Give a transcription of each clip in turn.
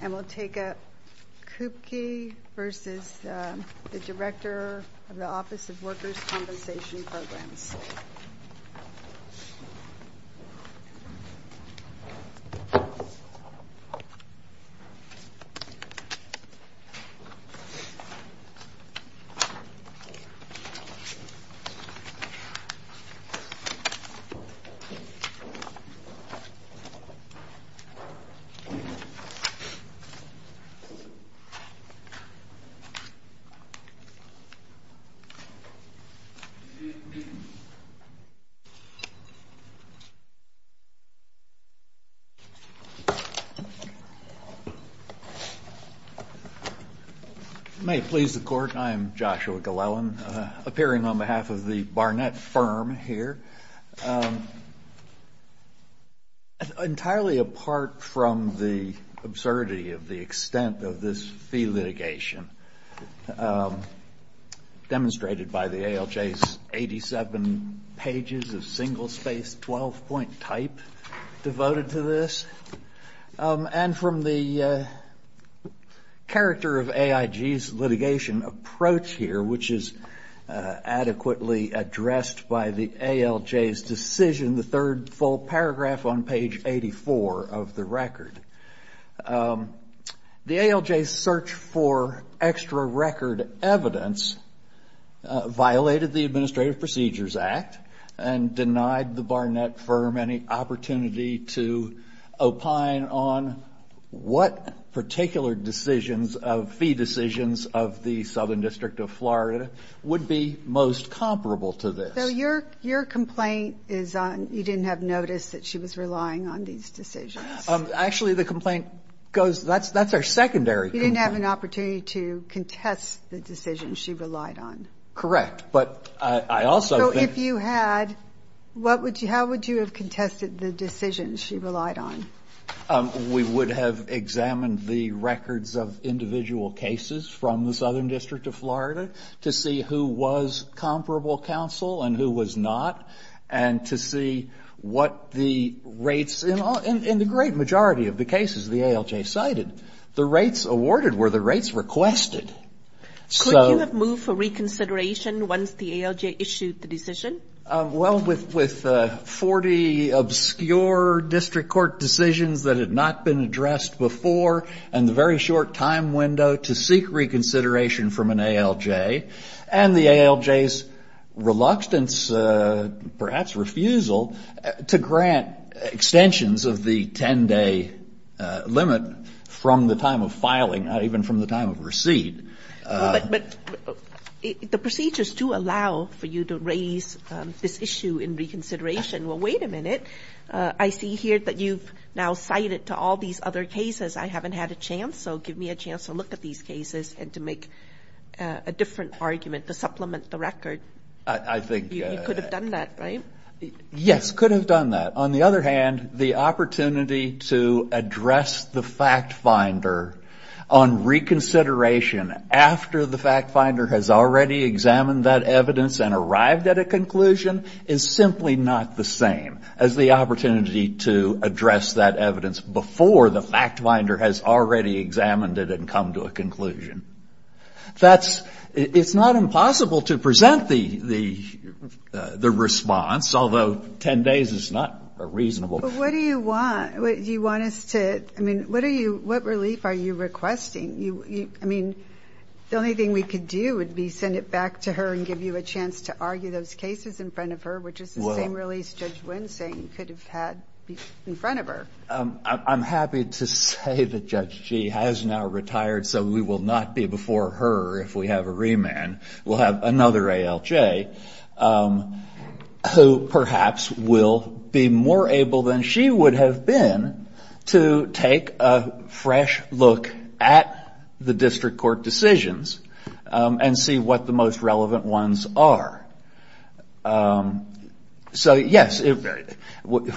and we'll take up Kupke v. the Director of the Office of Workers' Compensation Programs. May it please the Court, I am Joshua Glellen, appearing on behalf of the Barnett firm here. Entirely apart from the absurdity of the extent of this fee litigation demonstrated by the ALJ's 87 pages of single-space 12-point type devoted to this, and from the character of AIG's litigation approach here, which is adequately addressed by the ALJ's decision, the third full paragraph on page 84 of the record. The ALJ's search for extra record evidence violated the Administrative Procedures Act and denied the Barnett firm any opportunity to opine on what particular decisions, fee decisions of the Southern District of Florida would be most comparable to this. So your complaint is you didn't have notice that she was relying on these decisions? Actually, the complaint goes, that's our secondary complaint. You didn't have an opportunity to contest the decisions she relied on? Correct, but I also think... So if you had, how would you have contested the decisions she relied on? We would have examined the records of individual cases from the Southern District of Florida to see who was comparable counsel and who was not, and to see what the rates, in the great majority of the cases the ALJ cited, the rates awarded were the rates requested. Could you have moved for reconsideration once the ALJ issued the decision? Well, with 40 obscure district court decisions that had not been addressed before, and the very short time window to seek reconsideration from an ALJ, and the ALJ's reluctance, perhaps refusal, to grant extensions of the 10-day limit from the time of filing, not even from the time of receipt. But the procedures do allow for you to raise this issue in reconsideration. Well, wait a minute. I see here that you've now cited to all these other cases. I haven't had a chance, so give me a chance to look at these cases and to make a different argument to supplement the record. I think... You could have done that, right? Yes, could have done that. On the other hand, the opportunity to address the fact finder on reconsideration after the fact finder has already examined that evidence and arrived at a conclusion is simply not the same as the opportunity to address that evidence before the fact finder has already examined it It's not impossible to present the response, although 10 days is not reasonable. But what do you want? Do you want us to... I mean, what are you... What relief are you requesting? I mean, the only thing we could do would be send it back to her and give you a chance to argue those cases in front of her, which is the same relief Judge Winsing could have had in front of her. I'm happy to say that Judge Gee has now retired, so we will not be before her if we have a remand. We'll have another ALJ who perhaps will be more able than she would have been to take a fresh look at the district court decisions and see what the most relevant ones are. So, yes, we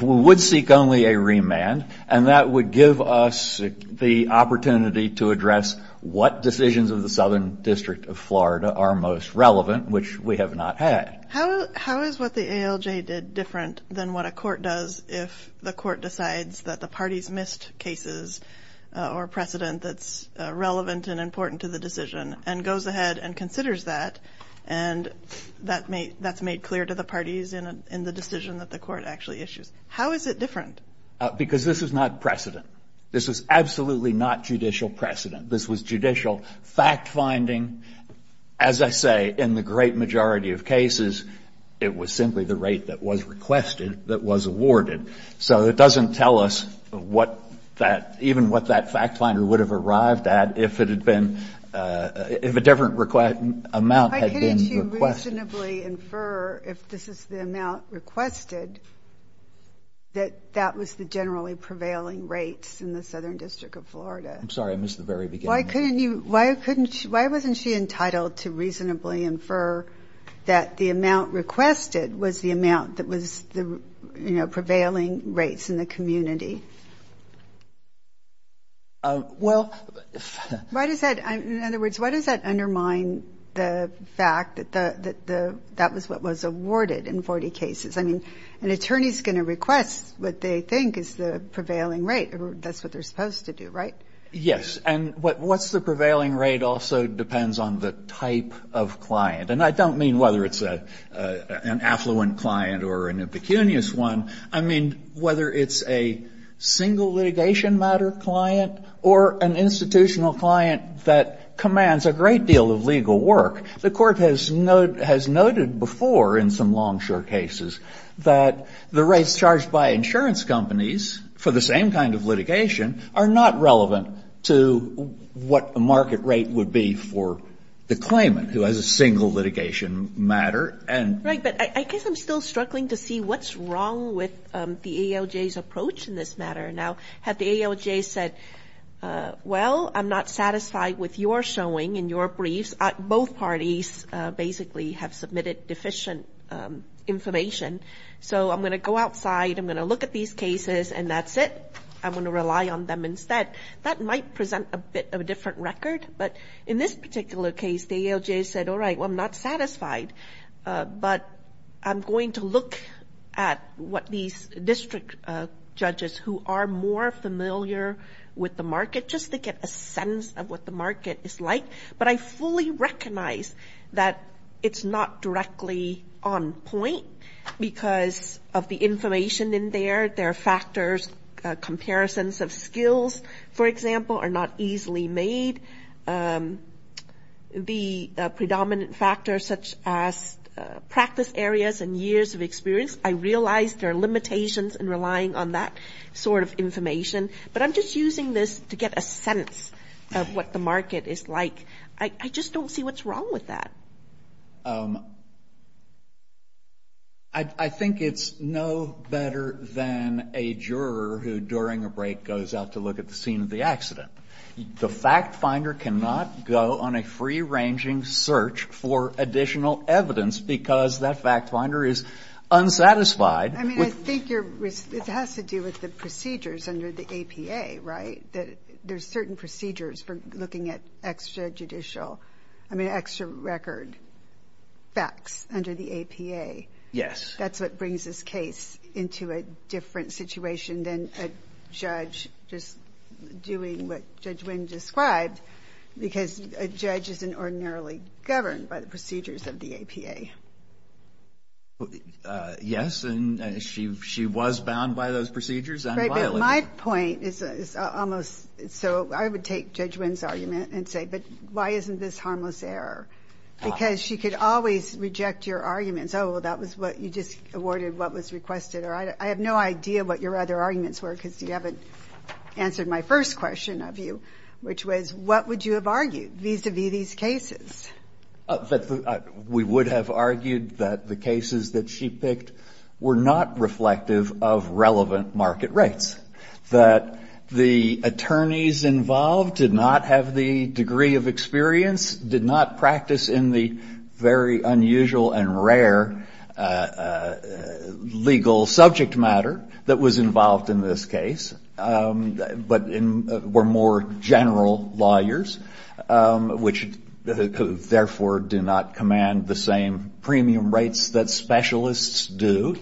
would seek only a remand, and that would give us the opportunity to address what decisions of the Southern District of Florida are most relevant, which we have not had. How is what the ALJ did different than what a court does if the court decides that the parties missed cases or precedent that's relevant and important to the decision and goes ahead and considers that and that's made clear to the parties in the decision that the court actually issues? How is it different? Because this is not precedent. This is absolutely not judicial precedent. This was judicial fact-finding. As I say, in the great majority of cases, it was simply the rate that was requested that was awarded. So it doesn't tell us what that, even what that fact-finder would have arrived at if it had been, if a different amount had been requested. Why couldn't she reasonably infer if this is the amount requested that that was the generally prevailing rate in the Southern District of Florida? I'm sorry. I missed the very beginning. Why couldn't you, why wasn't she entitled to reasonably infer that the amount requested was the amount that was, you know, prevailing rates in the community? Well. Why does that, in other words, why does that undermine the fact that that was what was awarded in 40 cases? I mean, an attorney is going to request what they think is the prevailing rate. That's what they're supposed to do, right? Yes. And what's the prevailing rate also depends on the type of client. And I don't mean whether it's an affluent client or an impecunious one. I mean whether it's a single litigation matter client or an institutional client that commands a great deal of legal work. The court has noted before in some longshore cases that the rates charged by insurance companies for the same kind of litigation are not relevant to what the market rate would be for the claimant who has a single litigation matter. Right. But I guess I'm still struggling to see what's wrong with the ALJ's approach in this matter. Now, had the ALJ said, well, I'm not satisfied with your showing in your briefs. Both parties basically have submitted deficient information. So I'm going to go outside. I'm going to look at these cases. And that's it. I'm going to rely on them instead. That might present a bit of a different record. But in this particular case, the ALJ said, all right, well, I'm not satisfied. But I'm going to look at what these district judges who are more familiar with the market, just to get a sense of what the market is like. But I fully recognize that it's not directly on point because of the information in there. There are factors, comparisons of skills, for example, are not easily made. The predominant factors such as practice areas and years of experience, I realize there are limitations in relying on that sort of information. But I'm just using this to get a sense of what the market is like. I just don't see what's wrong with that. I think it's no better than a juror who, during a break, goes out to look at the scene of the accident. The fact finder cannot go on a free-ranging search for additional evidence because that fact finder is unsatisfied. I mean, I think it has to do with the procedures under the APA, right? There's certain procedures for looking at extra judicial, I mean, extra record facts under the APA. Yes. That's what brings this case into a different situation than a judge just doing what Judge Wynn described because a judge isn't ordinarily governed by the procedures of the APA. Yes, and she was bound by those procedures and violated. My point is almost so I would take Judge Wynn's argument and say, but why isn't this harmless error? Because she could always reject your arguments. Oh, well, that was what you just awarded what was requested. Or I have no idea what your other arguments were because you haven't answered my first question of you, which was what would you have argued vis-à-vis these cases? We would have argued that the cases that she picked were not reflective of relevant market rates, that the attorneys involved did not have the degree of experience, did not practice in the very unusual and rare legal subject matter that was involved in this case, but were more general lawyers, which therefore do not command the same premium rates that specialists do.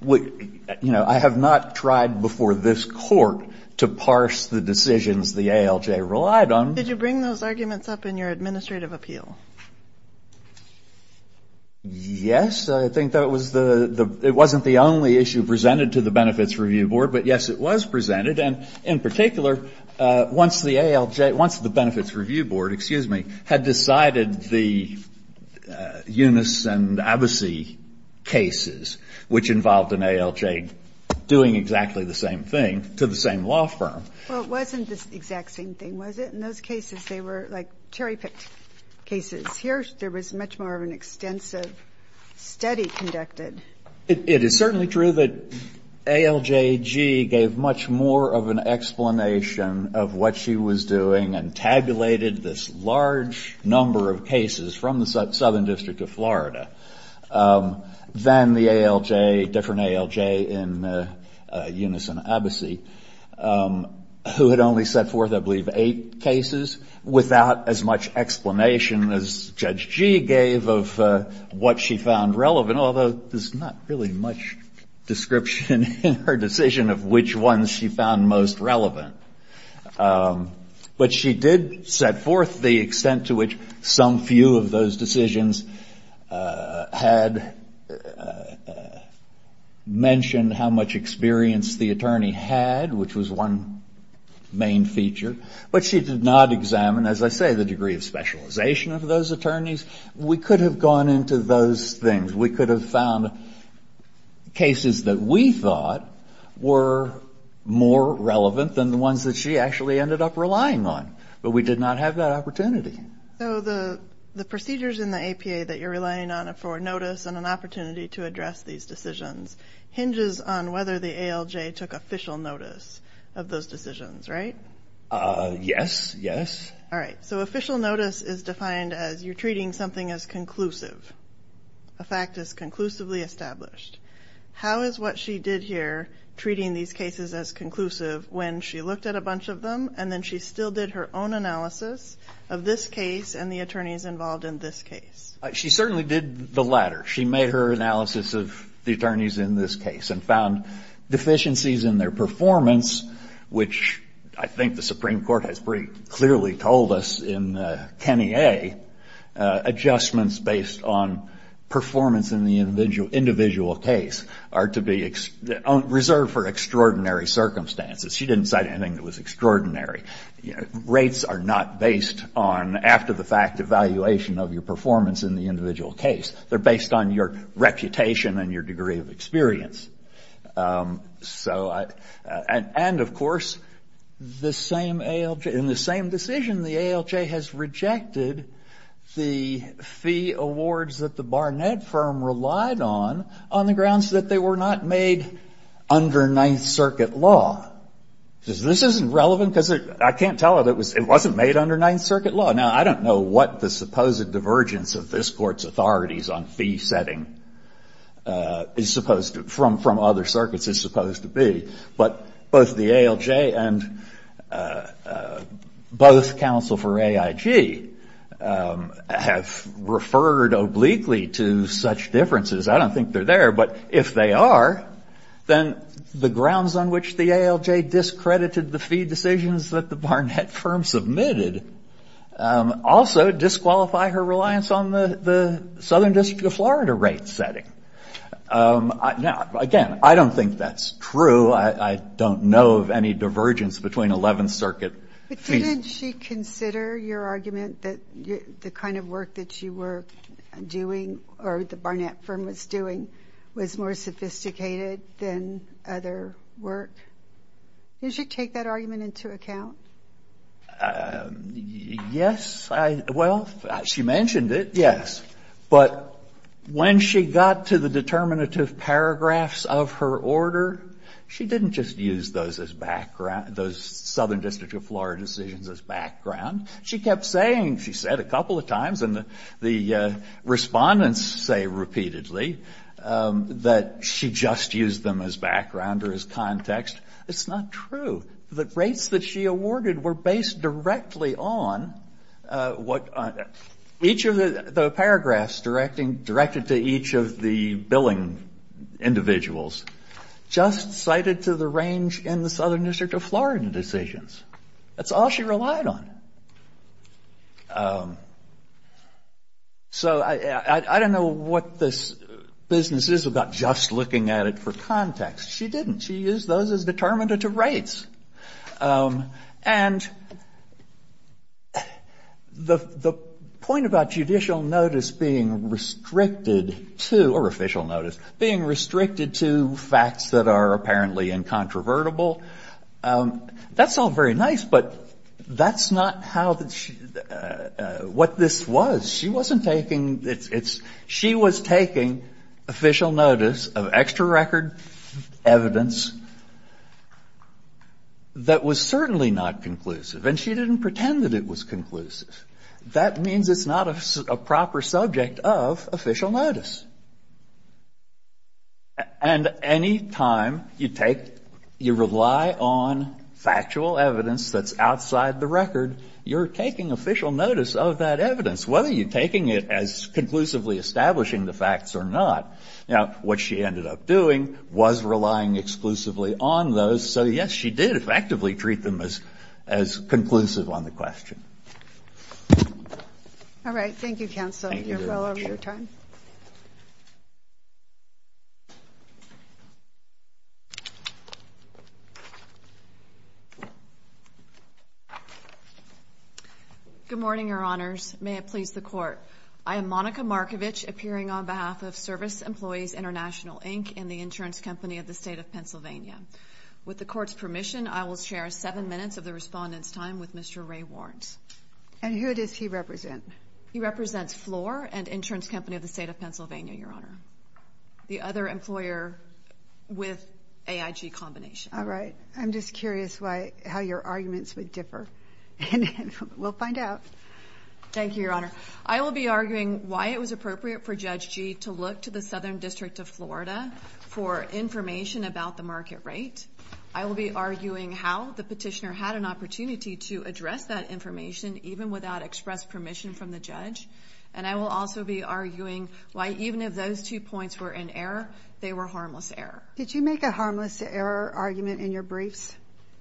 You know, I have not tried before this court to parse the decisions the ALJ relied on. Did you bring those arguments up in your administrative appeal? Yes. I think that it wasn't the only issue presented to the Benefits Review Board, but, yes, it was presented. And in particular, once the ALJ, once the Benefits Review Board, excuse me, had decided the Yunus and Abbasi cases, which involved an ALJ doing exactly the same thing to the same law firm. Well, it wasn't the exact same thing, was it? In those cases, they were like cherry-picked cases. Here, there was much more of an extensive study conducted. It is certainly true that ALJG gave much more of an explanation of what she was doing and tabulated this large number of cases from the Southern District of Florida than the ALJ, in Yunus and Abbasi, who had only set forth, I believe, eight cases without as much explanation as Judge Gee gave of what she found relevant, although there's not really much description in her decision of which ones she found most relevant. But she did set forth the extent to which some few of those decisions had mentioned how much experience the attorney had, which was one main feature. But she did not examine, as I say, the degree of specialization of those attorneys. We could have gone into those things. We could have found cases that we thought were more relevant than the ones that she actually ended up relying on. But we did not have that opportunity. So the procedures in the APA that you're relying on for notice and an opportunity to address these decisions hinges on whether the ALJ took official notice of those decisions, right? Yes, yes. All right, so official notice is defined as you're treating something as conclusive. A fact is conclusively established. How is what she did here, treating these cases as conclusive, when she looked at a bunch of them and then she still did her own analysis of this case and the attorneys involved in this case? She certainly did the latter. She made her analysis of the attorneys in this case and found deficiencies in their performance, which I think the Supreme Court has pretty clearly told us in Kenny A, adjustments based on performance in the individual case are to be reserved for extraordinary circumstances. She didn't cite anything that was extraordinary. Rates are not based on after-the-fact evaluation of your performance in the individual case. They're based on your reputation and your degree of experience. And, of course, in the same decision, the ALJ has rejected the fee awards that the Barnett firm relied on on the grounds that they were not made under Ninth Circuit law. This isn't relevant because I can't tell that it wasn't made under Ninth Circuit law. Now, I don't know what the supposed divergence of this Court's authorities on fee setting is supposed to, from other circuits, is supposed to be. But both the ALJ and both counsel for AIG have referred obliquely to such differences. I don't think they're there, but if they are, then the grounds on which the ALJ discredited the fee decisions that the Barnett firm submitted also disqualify her reliance on the Southern District of Florida rate setting. Now, again, I don't think that's true. I don't know of any divergence between Eleventh Circuit fees. But didn't she consider your argument that the kind of work that you were doing or the Barnett firm was doing was more sophisticated than other work? Did she take that argument into account? Yes. Well, she mentioned it, yes. But when she got to the determinative paragraphs of her order, she didn't just use those as background, those Southern District of Florida decisions as background. She kept saying, she said a couple of times, and the Respondents say repeatedly, that she just used them as background or as context. It's not true. The rates that she awarded were based directly on what each of the paragraphs directed to each of the billing individuals, just cited to the range in the Southern District of Florida decisions. That's all she relied on. So I don't know what this business is about just looking at it for context. She didn't. She used those as determinative rates. And the point about judicial notice being restricted to, or official notice, being restricted to facts that are apparently incontrovertible, that's all very nice. But that's not what this was. She wasn't taking it. She was taking official notice of extra record evidence that was certainly not conclusive. And she didn't pretend that it was conclusive. That means it's not a proper subject of official notice. And any time you take, you rely on factual evidence that's outside the record, you're taking official notice of that evidence, whether you're taking it as conclusive or whether you're exclusively establishing the facts or not. Now, what she ended up doing was relying exclusively on those. So, yes, she did effectively treat them as conclusive on the question. All right. Thank you, counsel. You're well over your time. Good morning, Your Honors. May it please the Court. I am Monica Markovich, appearing on behalf of Service Employees International, Inc., and the insurance company of the State of Pennsylvania. With the Court's permission, I will share seven minutes of the Respondent's time with Mr. Ray Warnes. And who does he represent? He represents Floor, an insurance company of the State of Pennsylvania, Your Honor. The other employer with AIG combination. All right. I'm just curious how your arguments would differ. We'll find out. Thank you, Your Honor. I will be arguing why it was appropriate for Judge Gee to look to the Southern District of Florida for information about the market rate. I will be arguing how the petitioner had an opportunity to address that information, even without express permission from the judge. And I will also be arguing why even if those two points were in error, they were harmless error. Did you make a harmless error argument in your briefs?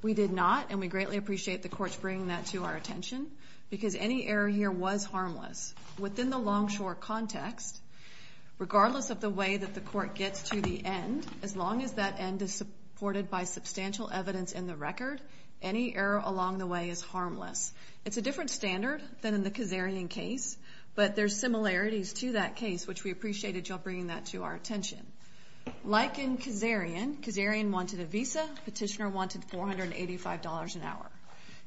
We did not, and we greatly appreciate the Court's bringing that to our attention, because any error here was harmless. Within the Longshore context, regardless of the way that the Court gets to the end, as long as that end is supported by substantial evidence in the record, any error along the way is harmless. It's a different standard than in the Kazarian case, but there's similarities to that case, which we appreciated your bringing that to our attention. Like in Kazarian, Kazarian wanted a visa. Petitioner wanted $485 an hour.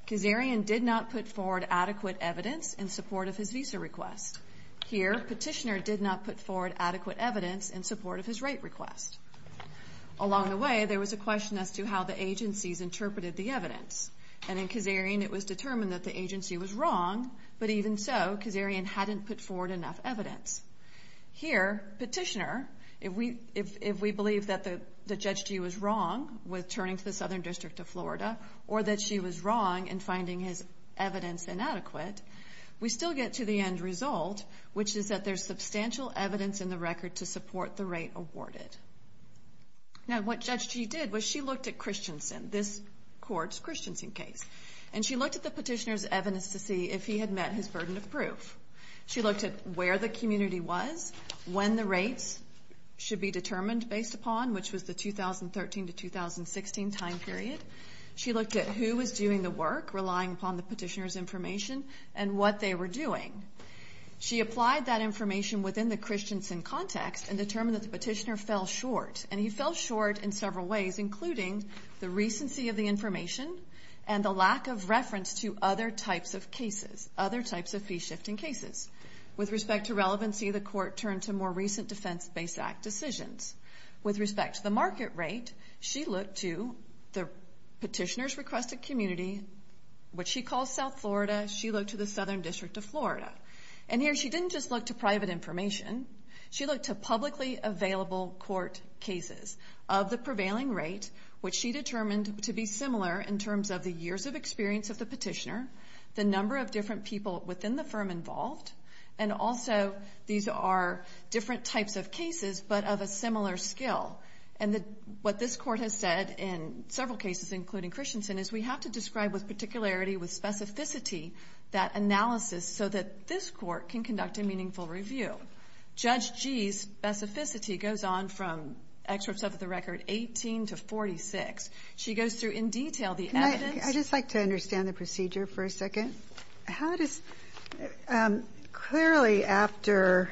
Kazarian did not put forward adequate evidence in support of his visa request. Here, petitioner did not put forward adequate evidence in support of his rate request. Along the way, there was a question as to how the agencies interpreted the evidence. And in Kazarian, it was determined that the agency was wrong, but even so, Kazarian hadn't put forward enough evidence. Here, petitioner, if we believe that Judge Gee was wrong with turning to the Southern District of Florida, or that she was wrong in finding his evidence inadequate, we still get to the end result, which is that there's substantial evidence in the record to support the rate awarded. Now, what Judge Gee did was she looked at Christensen, this Court's Christensen case, and she looked at the petitioner's evidence to see if he had met his burden of proof. She looked at where the community was, when the rates should be determined based upon, which was the 2013 to 2016 time period. She looked at who was doing the work, relying upon the petitioner's information, and what they were doing. She applied that information within the Christensen context and determined that the petitioner fell short. And he fell short in several ways, including the recency of the information and the lack of reference to other types of cases, other types of fee-shifting cases. With respect to relevancy, the Court turned to more recent Defense-Based Act decisions. With respect to the market rate, she looked to the petitioner's requested community, which she calls South Florida. She looked to the Southern District of Florida. And here she didn't just look to private information. She looked to publicly available court cases of the prevailing rate, which she determined to be similar in terms of the years of experience of the petitioner, the number of different people within the firm involved, and also these are different types of cases, but of a similar skill. And what this Court has said in several cases, including Christensen, is we have to describe with particularity, with specificity, that analysis, so that this Court can conduct a meaningful review. Judge Gee's specificity goes on from excerpts of the record 18 to 46. She goes through in detail the evidence. Clearly, after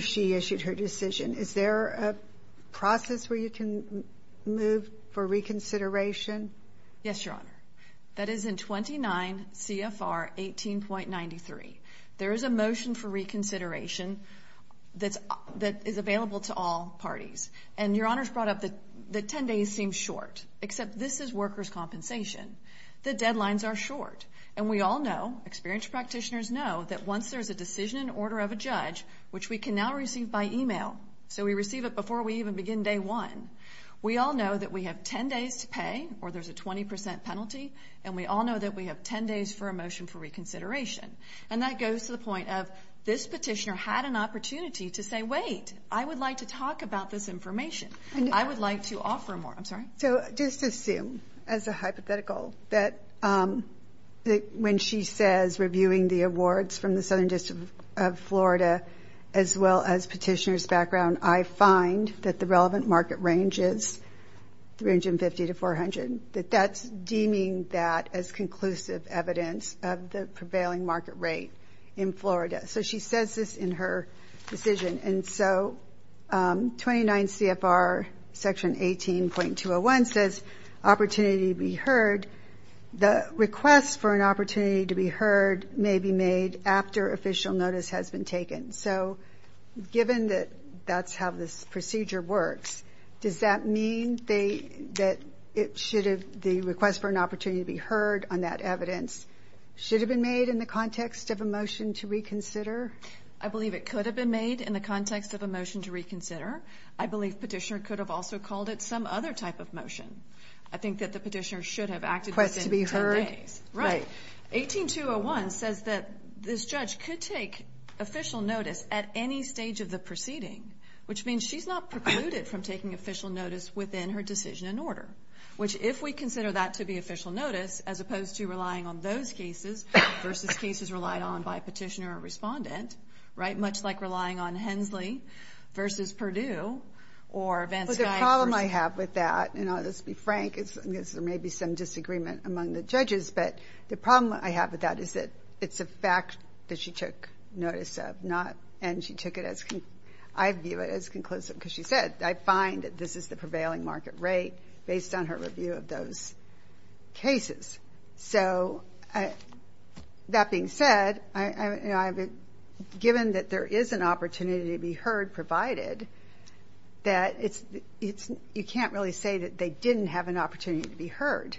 she issued her decision, is there a process where you can move for reconsideration? Yes, Your Honor. That is in 29 CFR 18.93. There is a motion for reconsideration that is available to all parties. And Your Honor's brought up that 10 days seems short, except this is workers' compensation. The deadlines are short. And we all know, experienced practitioners know, that once there's a decision in order of a judge, which we can now receive by email, so we receive it before we even begin day one, we all know that we have 10 days to pay, or there's a 20% penalty, and we all know that we have 10 days for a motion for reconsideration. And that goes to the point of, this petitioner had an opportunity to say, wait, I would like to talk about this information. I would like to offer more. I'm sorry? So just assume, as a hypothetical, that when she says, reviewing the awards from the Southern District of Florida, as well as petitioner's background, I find that the relevant market range is 350 to 400, that that's deeming that as conclusive evidence of the prevailing market rate in Florida. So she says this in her decision. And so 29 CFR section 18.201 says, opportunity to be heard. The request for an opportunity to be heard may be made after official notice has been taken. So given that that's how this procedure works, does that mean that the request for an opportunity to be heard on that evidence should have been made in the context of a motion to reconsider? I believe it could have been made in the context of a motion to reconsider. I believe petitioner could have also called it some other type of motion. I think that the petitioner should have acted within 10 days. 18.201 says that this judge could take official notice at any stage of the proceeding, which means she's not precluded from taking official notice within her decision and order, which if we consider that to be official notice, as opposed to relying on those cases versus cases relied on by petitioner or respondent, right? Much like relying on Hensley versus Perdue or Vansky versus... Well, the problem I have with that, and I'll just be frank, is there may be some disagreement among the judges, but the problem I have with that is that it's a fact that she took notice of, and I view it as conclusive because she said, I find that this is the prevailing market rate based on her review of those cases. So that being said, given that there is an opportunity to be heard provided, you can't really say that they didn't have an opportunity to be heard.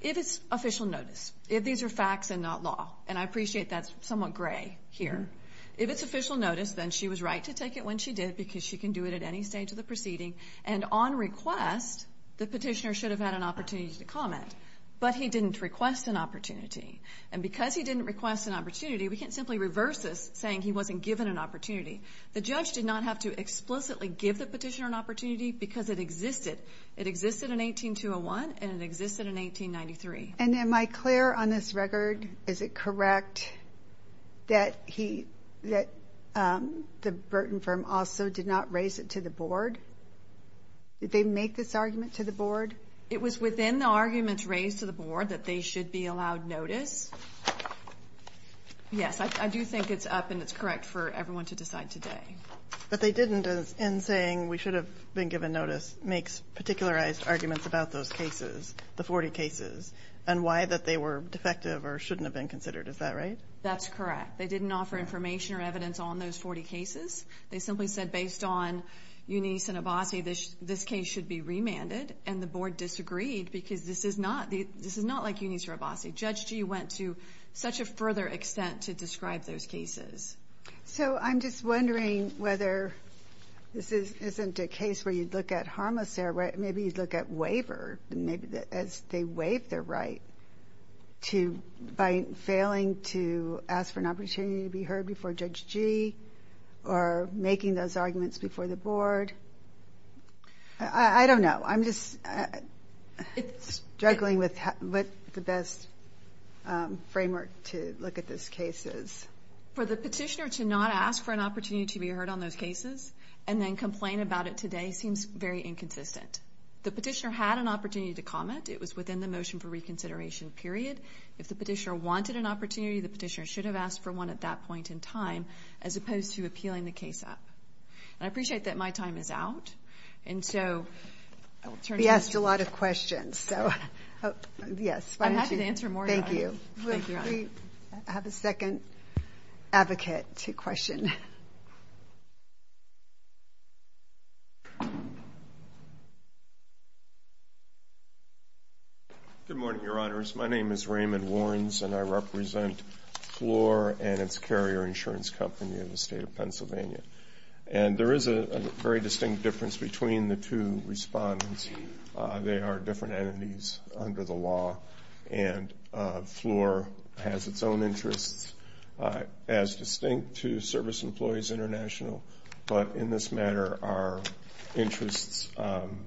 If it's official notice, if these are facts and not law, and I appreciate that's somewhat gray here, if it's official notice, then she was right to take it when she did because she can do it at any stage of the proceeding, and on request, the petitioner should have had an opportunity to comment, but he didn't request an opportunity, and because he didn't request an opportunity, we can't simply reverse this saying he wasn't given an opportunity. The judge did not have to explicitly give the petitioner an opportunity because it existed. It existed in 18201, and it existed in 1893. And am I clear on this record, is it correct that the Burton firm also did not raise it to the board? Did they make this argument to the board? It was within the arguments raised to the board that they should be allowed notice. Yes, I do think it's up and it's correct for everyone to decide today. But they didn't, in saying we should have been given notice, make particularized arguments about those cases, the 40 cases, and why that they were defective or shouldn't have been considered. Is that right? That's correct. They didn't offer information or evidence on those 40 cases. They simply said based on Unice and Abbasi, this case should be remanded, and the board disagreed because this is not like Unice or Abbasi. Judge Gee went to such a further extent to describe those cases. So I'm just wondering whether this isn't a case where you'd look at harmless error, maybe you'd look at waiver as they waive their right by failing to ask for an opportunity to be heard before Judge Gee or making those arguments before the board. I don't know. I'm just struggling with the best framework to look at those cases. For the petitioner to not ask for an opportunity to be heard on those cases and then complain about it today seems very inconsistent. The petitioner had an opportunity to comment. It was within the motion for reconsideration period. If the petitioner wanted an opportunity, the petitioner should have asked for one at that point in time, as opposed to appealing the case up. And I appreciate that my time is out. And so... We asked a lot of questions. I'm happy to answer more. We have a second advocate to question. Good morning, Your Honors. My name is Raymond Warrens, and I represent Floor and its carrier insurance company in the state of Pennsylvania. And there is a very distinct difference between the two respondents. They are different entities under the law. And Floor has its own interests as distinct to Service Employees International. But in this matter, our interests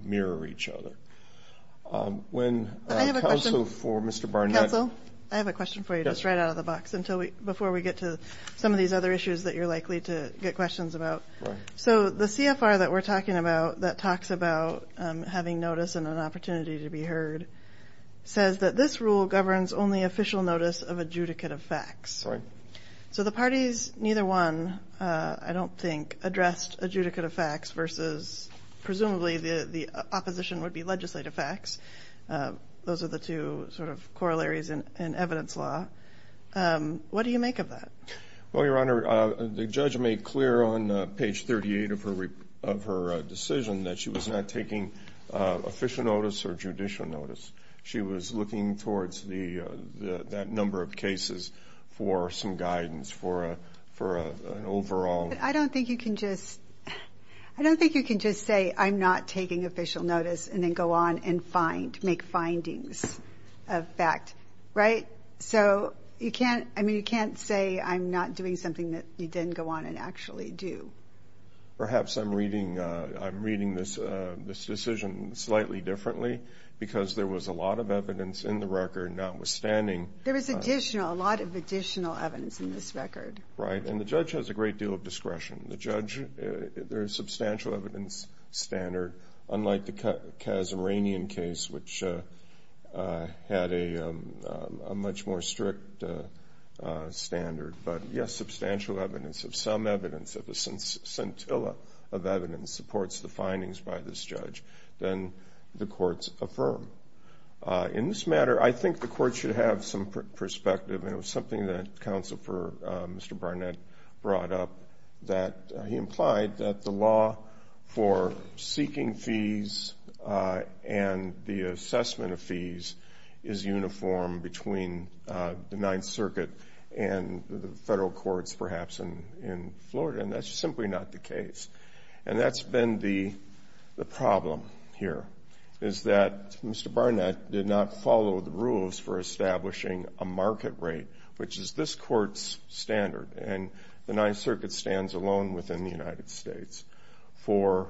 mirror each other. When counsel for Mr. Barnett... Counsel, I have a question for you just right out of the box before we get to some of these other issues that you're likely to get questions about. So the CFR that we're talking about that talks about having notice and an opportunity to be heard says that this rule governs only official notice of adjudicate of facts. So the parties, neither one, I don't think, addressed adjudicate of facts versus presumably the opposition would be legislative facts. Those are the two sort of corollaries in evidence law. What do you make of that? Well, Your Honor, the judge made clear on page 38 of her decision that she was not taking official notice or judicial notice. She was looking towards that number of cases for some guidance for an overall... I don't think you can just say I'm not taking official notice and then go on and make findings of fact, right? So you can't say I'm not doing something that you didn't go on and actually do. Perhaps I'm reading this decision slightly differently because there was a lot of evidence in the record notwithstanding... There was additional, a lot of substantial evidence standard, unlike the Kazerainian case, which had a much more strict standard. But yes, substantial evidence, if some evidence, if a scintilla of evidence supports the findings by this judge, then the courts affirm. In this matter, I think the court should have some perspective, and it was something that Counsel for Mr. Barnett brought up, that he implied that the law for seeking fees and the assessment of fees is uniform between the Ninth Circuit and the federal courts perhaps in Florida, and that's simply not the case. And that's been the problem here, is that this court's standard, and the Ninth Circuit stands alone within the United States for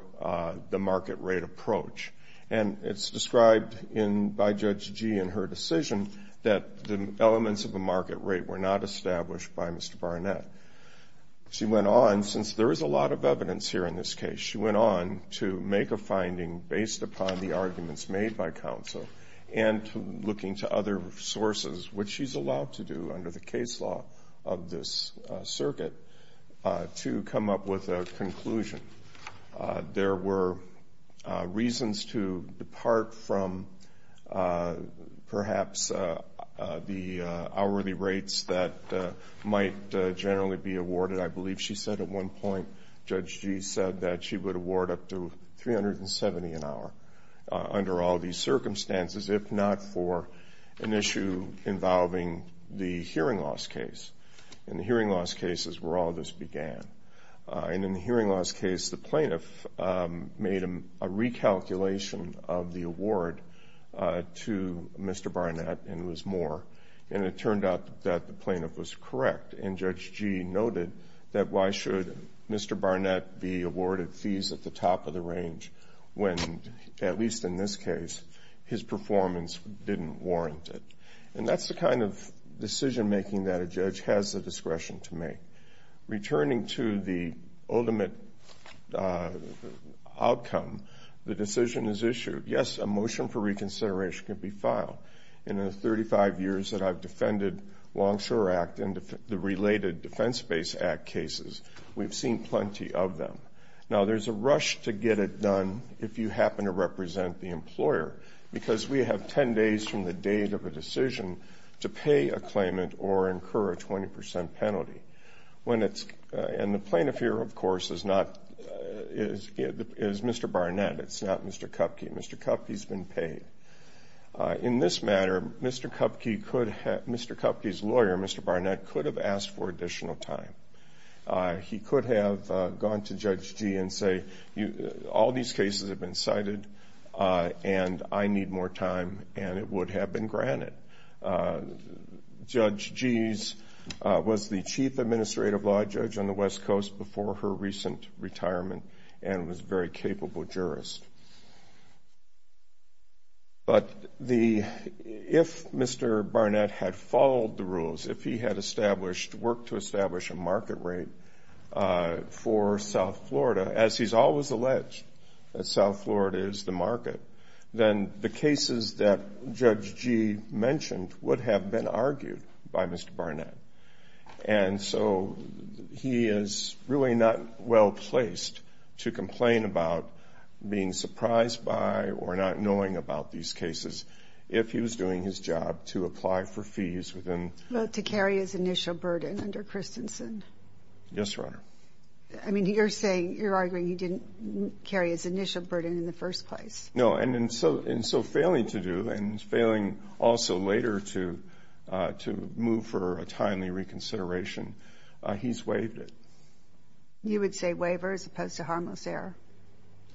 the market rate approach. And it's described by Judge Gee in her decision that the elements of the market rate were not established by Mr. Barnett. She went on, since there is a lot of evidence here in this case, she went on to make a finding based upon the arguments made by Counsel and looking to other sources, which she's allowed to do under the case law of this circuit, to come up with a conclusion. There were reasons to depart from perhaps the hourly rates that might generally be awarded. I believe she said at one point, Judge Gee said that she would award up to $370 an hour under all these circumstances, if not for an issue involving the hearing loss case. And the hearing loss case is where all this began. And in the hearing loss case, the plaintiff made a recalculation of the award to Mr. Barnett, and it was more. And it turned out that the plaintiff was awarded fees at the top of the range when, at least in this case, his performance didn't warrant it. And that's the kind of decision making that a judge has the discretion to make. Returning to the ultimate outcome, the decision is issued. Yes, a motion for reconsideration can be filed. In the 35 years that I've defended Longshore Act and the related Defense Base Act cases, we've seen plenty of them. Now, there's a rush to get it done if you happen to represent the employer, because we have 10 days from the date of a decision to pay a claimant or incur a 20 percent penalty. And the plaintiff here, of course, is Mr. Barnett. It's not Mr. Kupke. Mr. Kupke's been paid. In this matter, Mr. Kupke could have... Mr. Kupke's lawyer, Mr. Barnett, could have asked for additional time. He could have gone to Judge Gee and say, all these cases have been cited, and I need more time, and it would have been granted. Judge Gee was the chief administrative law judge on the West Coast before her recent retirement and was a very capable jurist. But if Mr. Barnett had followed the rules, if he had worked to establish a market rate for South Florida, as he's always alleged that South Florida is the market, then the cases that Judge Gee mentioned would have been argued by Mr. Barnett. And so he is really not well-placed to complain about being surprised by or not knowing about these cases if he was doing his job to apply for fees within... To carry his initial burden under Christensen. Yes, Your Honor. I mean, you're arguing he didn't carry his initial burden in the first place. No, and so failing to do, and failing also later to move for a timely reconsideration, he's waived it. You would say waiver as opposed to harmless error?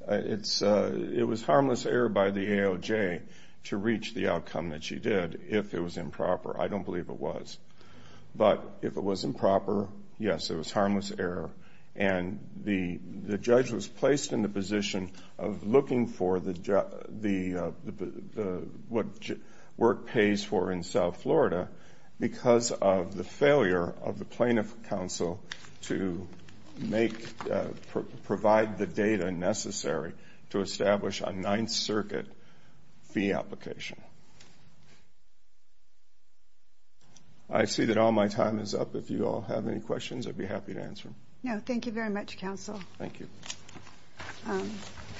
It was harmless error by the AOJ to reach the outcome that she did if it was improper. I don't believe it was. But if it was improper, yes, it was harmless error. And the judge was placed in the position of looking for what work pays for in South Florida because of the failure of the Plaintiff Council to provide the data necessary to establish a Ninth Circuit fee application. I see that all my time is up. If you all have any questions, I'd be happy to answer them. No, thank you very much, Counsel. Thank you.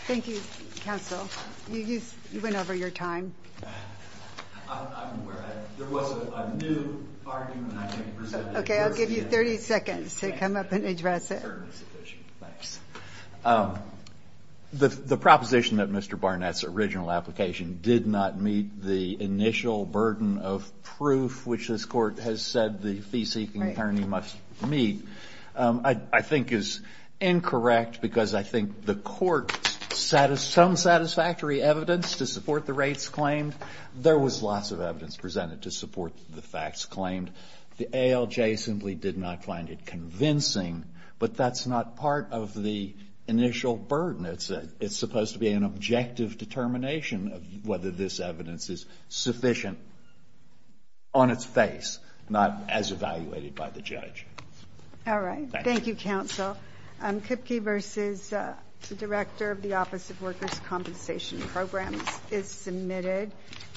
Thank you, Counsel. You went over your time. I'm aware. There was a new argument I came to present. Okay, I'll give you 30 seconds to come up and address it. The proposition that Mr. Barnett's original application did not meet the initial burden of proof which this Court has said the fee-seeking attorney must meet, I think is incorrect because I think the Court's own satisfactory evidence to support the rates claimed, there was lots of evidence presented to support the rates claimed, and it's convincing, but that's not part of the initial burden. It's supposed to be an objective determination of whether this evidence is sufficient on its face, not as evaluated by the judge. All right. Thank you, Counsel. Kipke v. Director of the Office of Workers' Compensation Programs is submitted.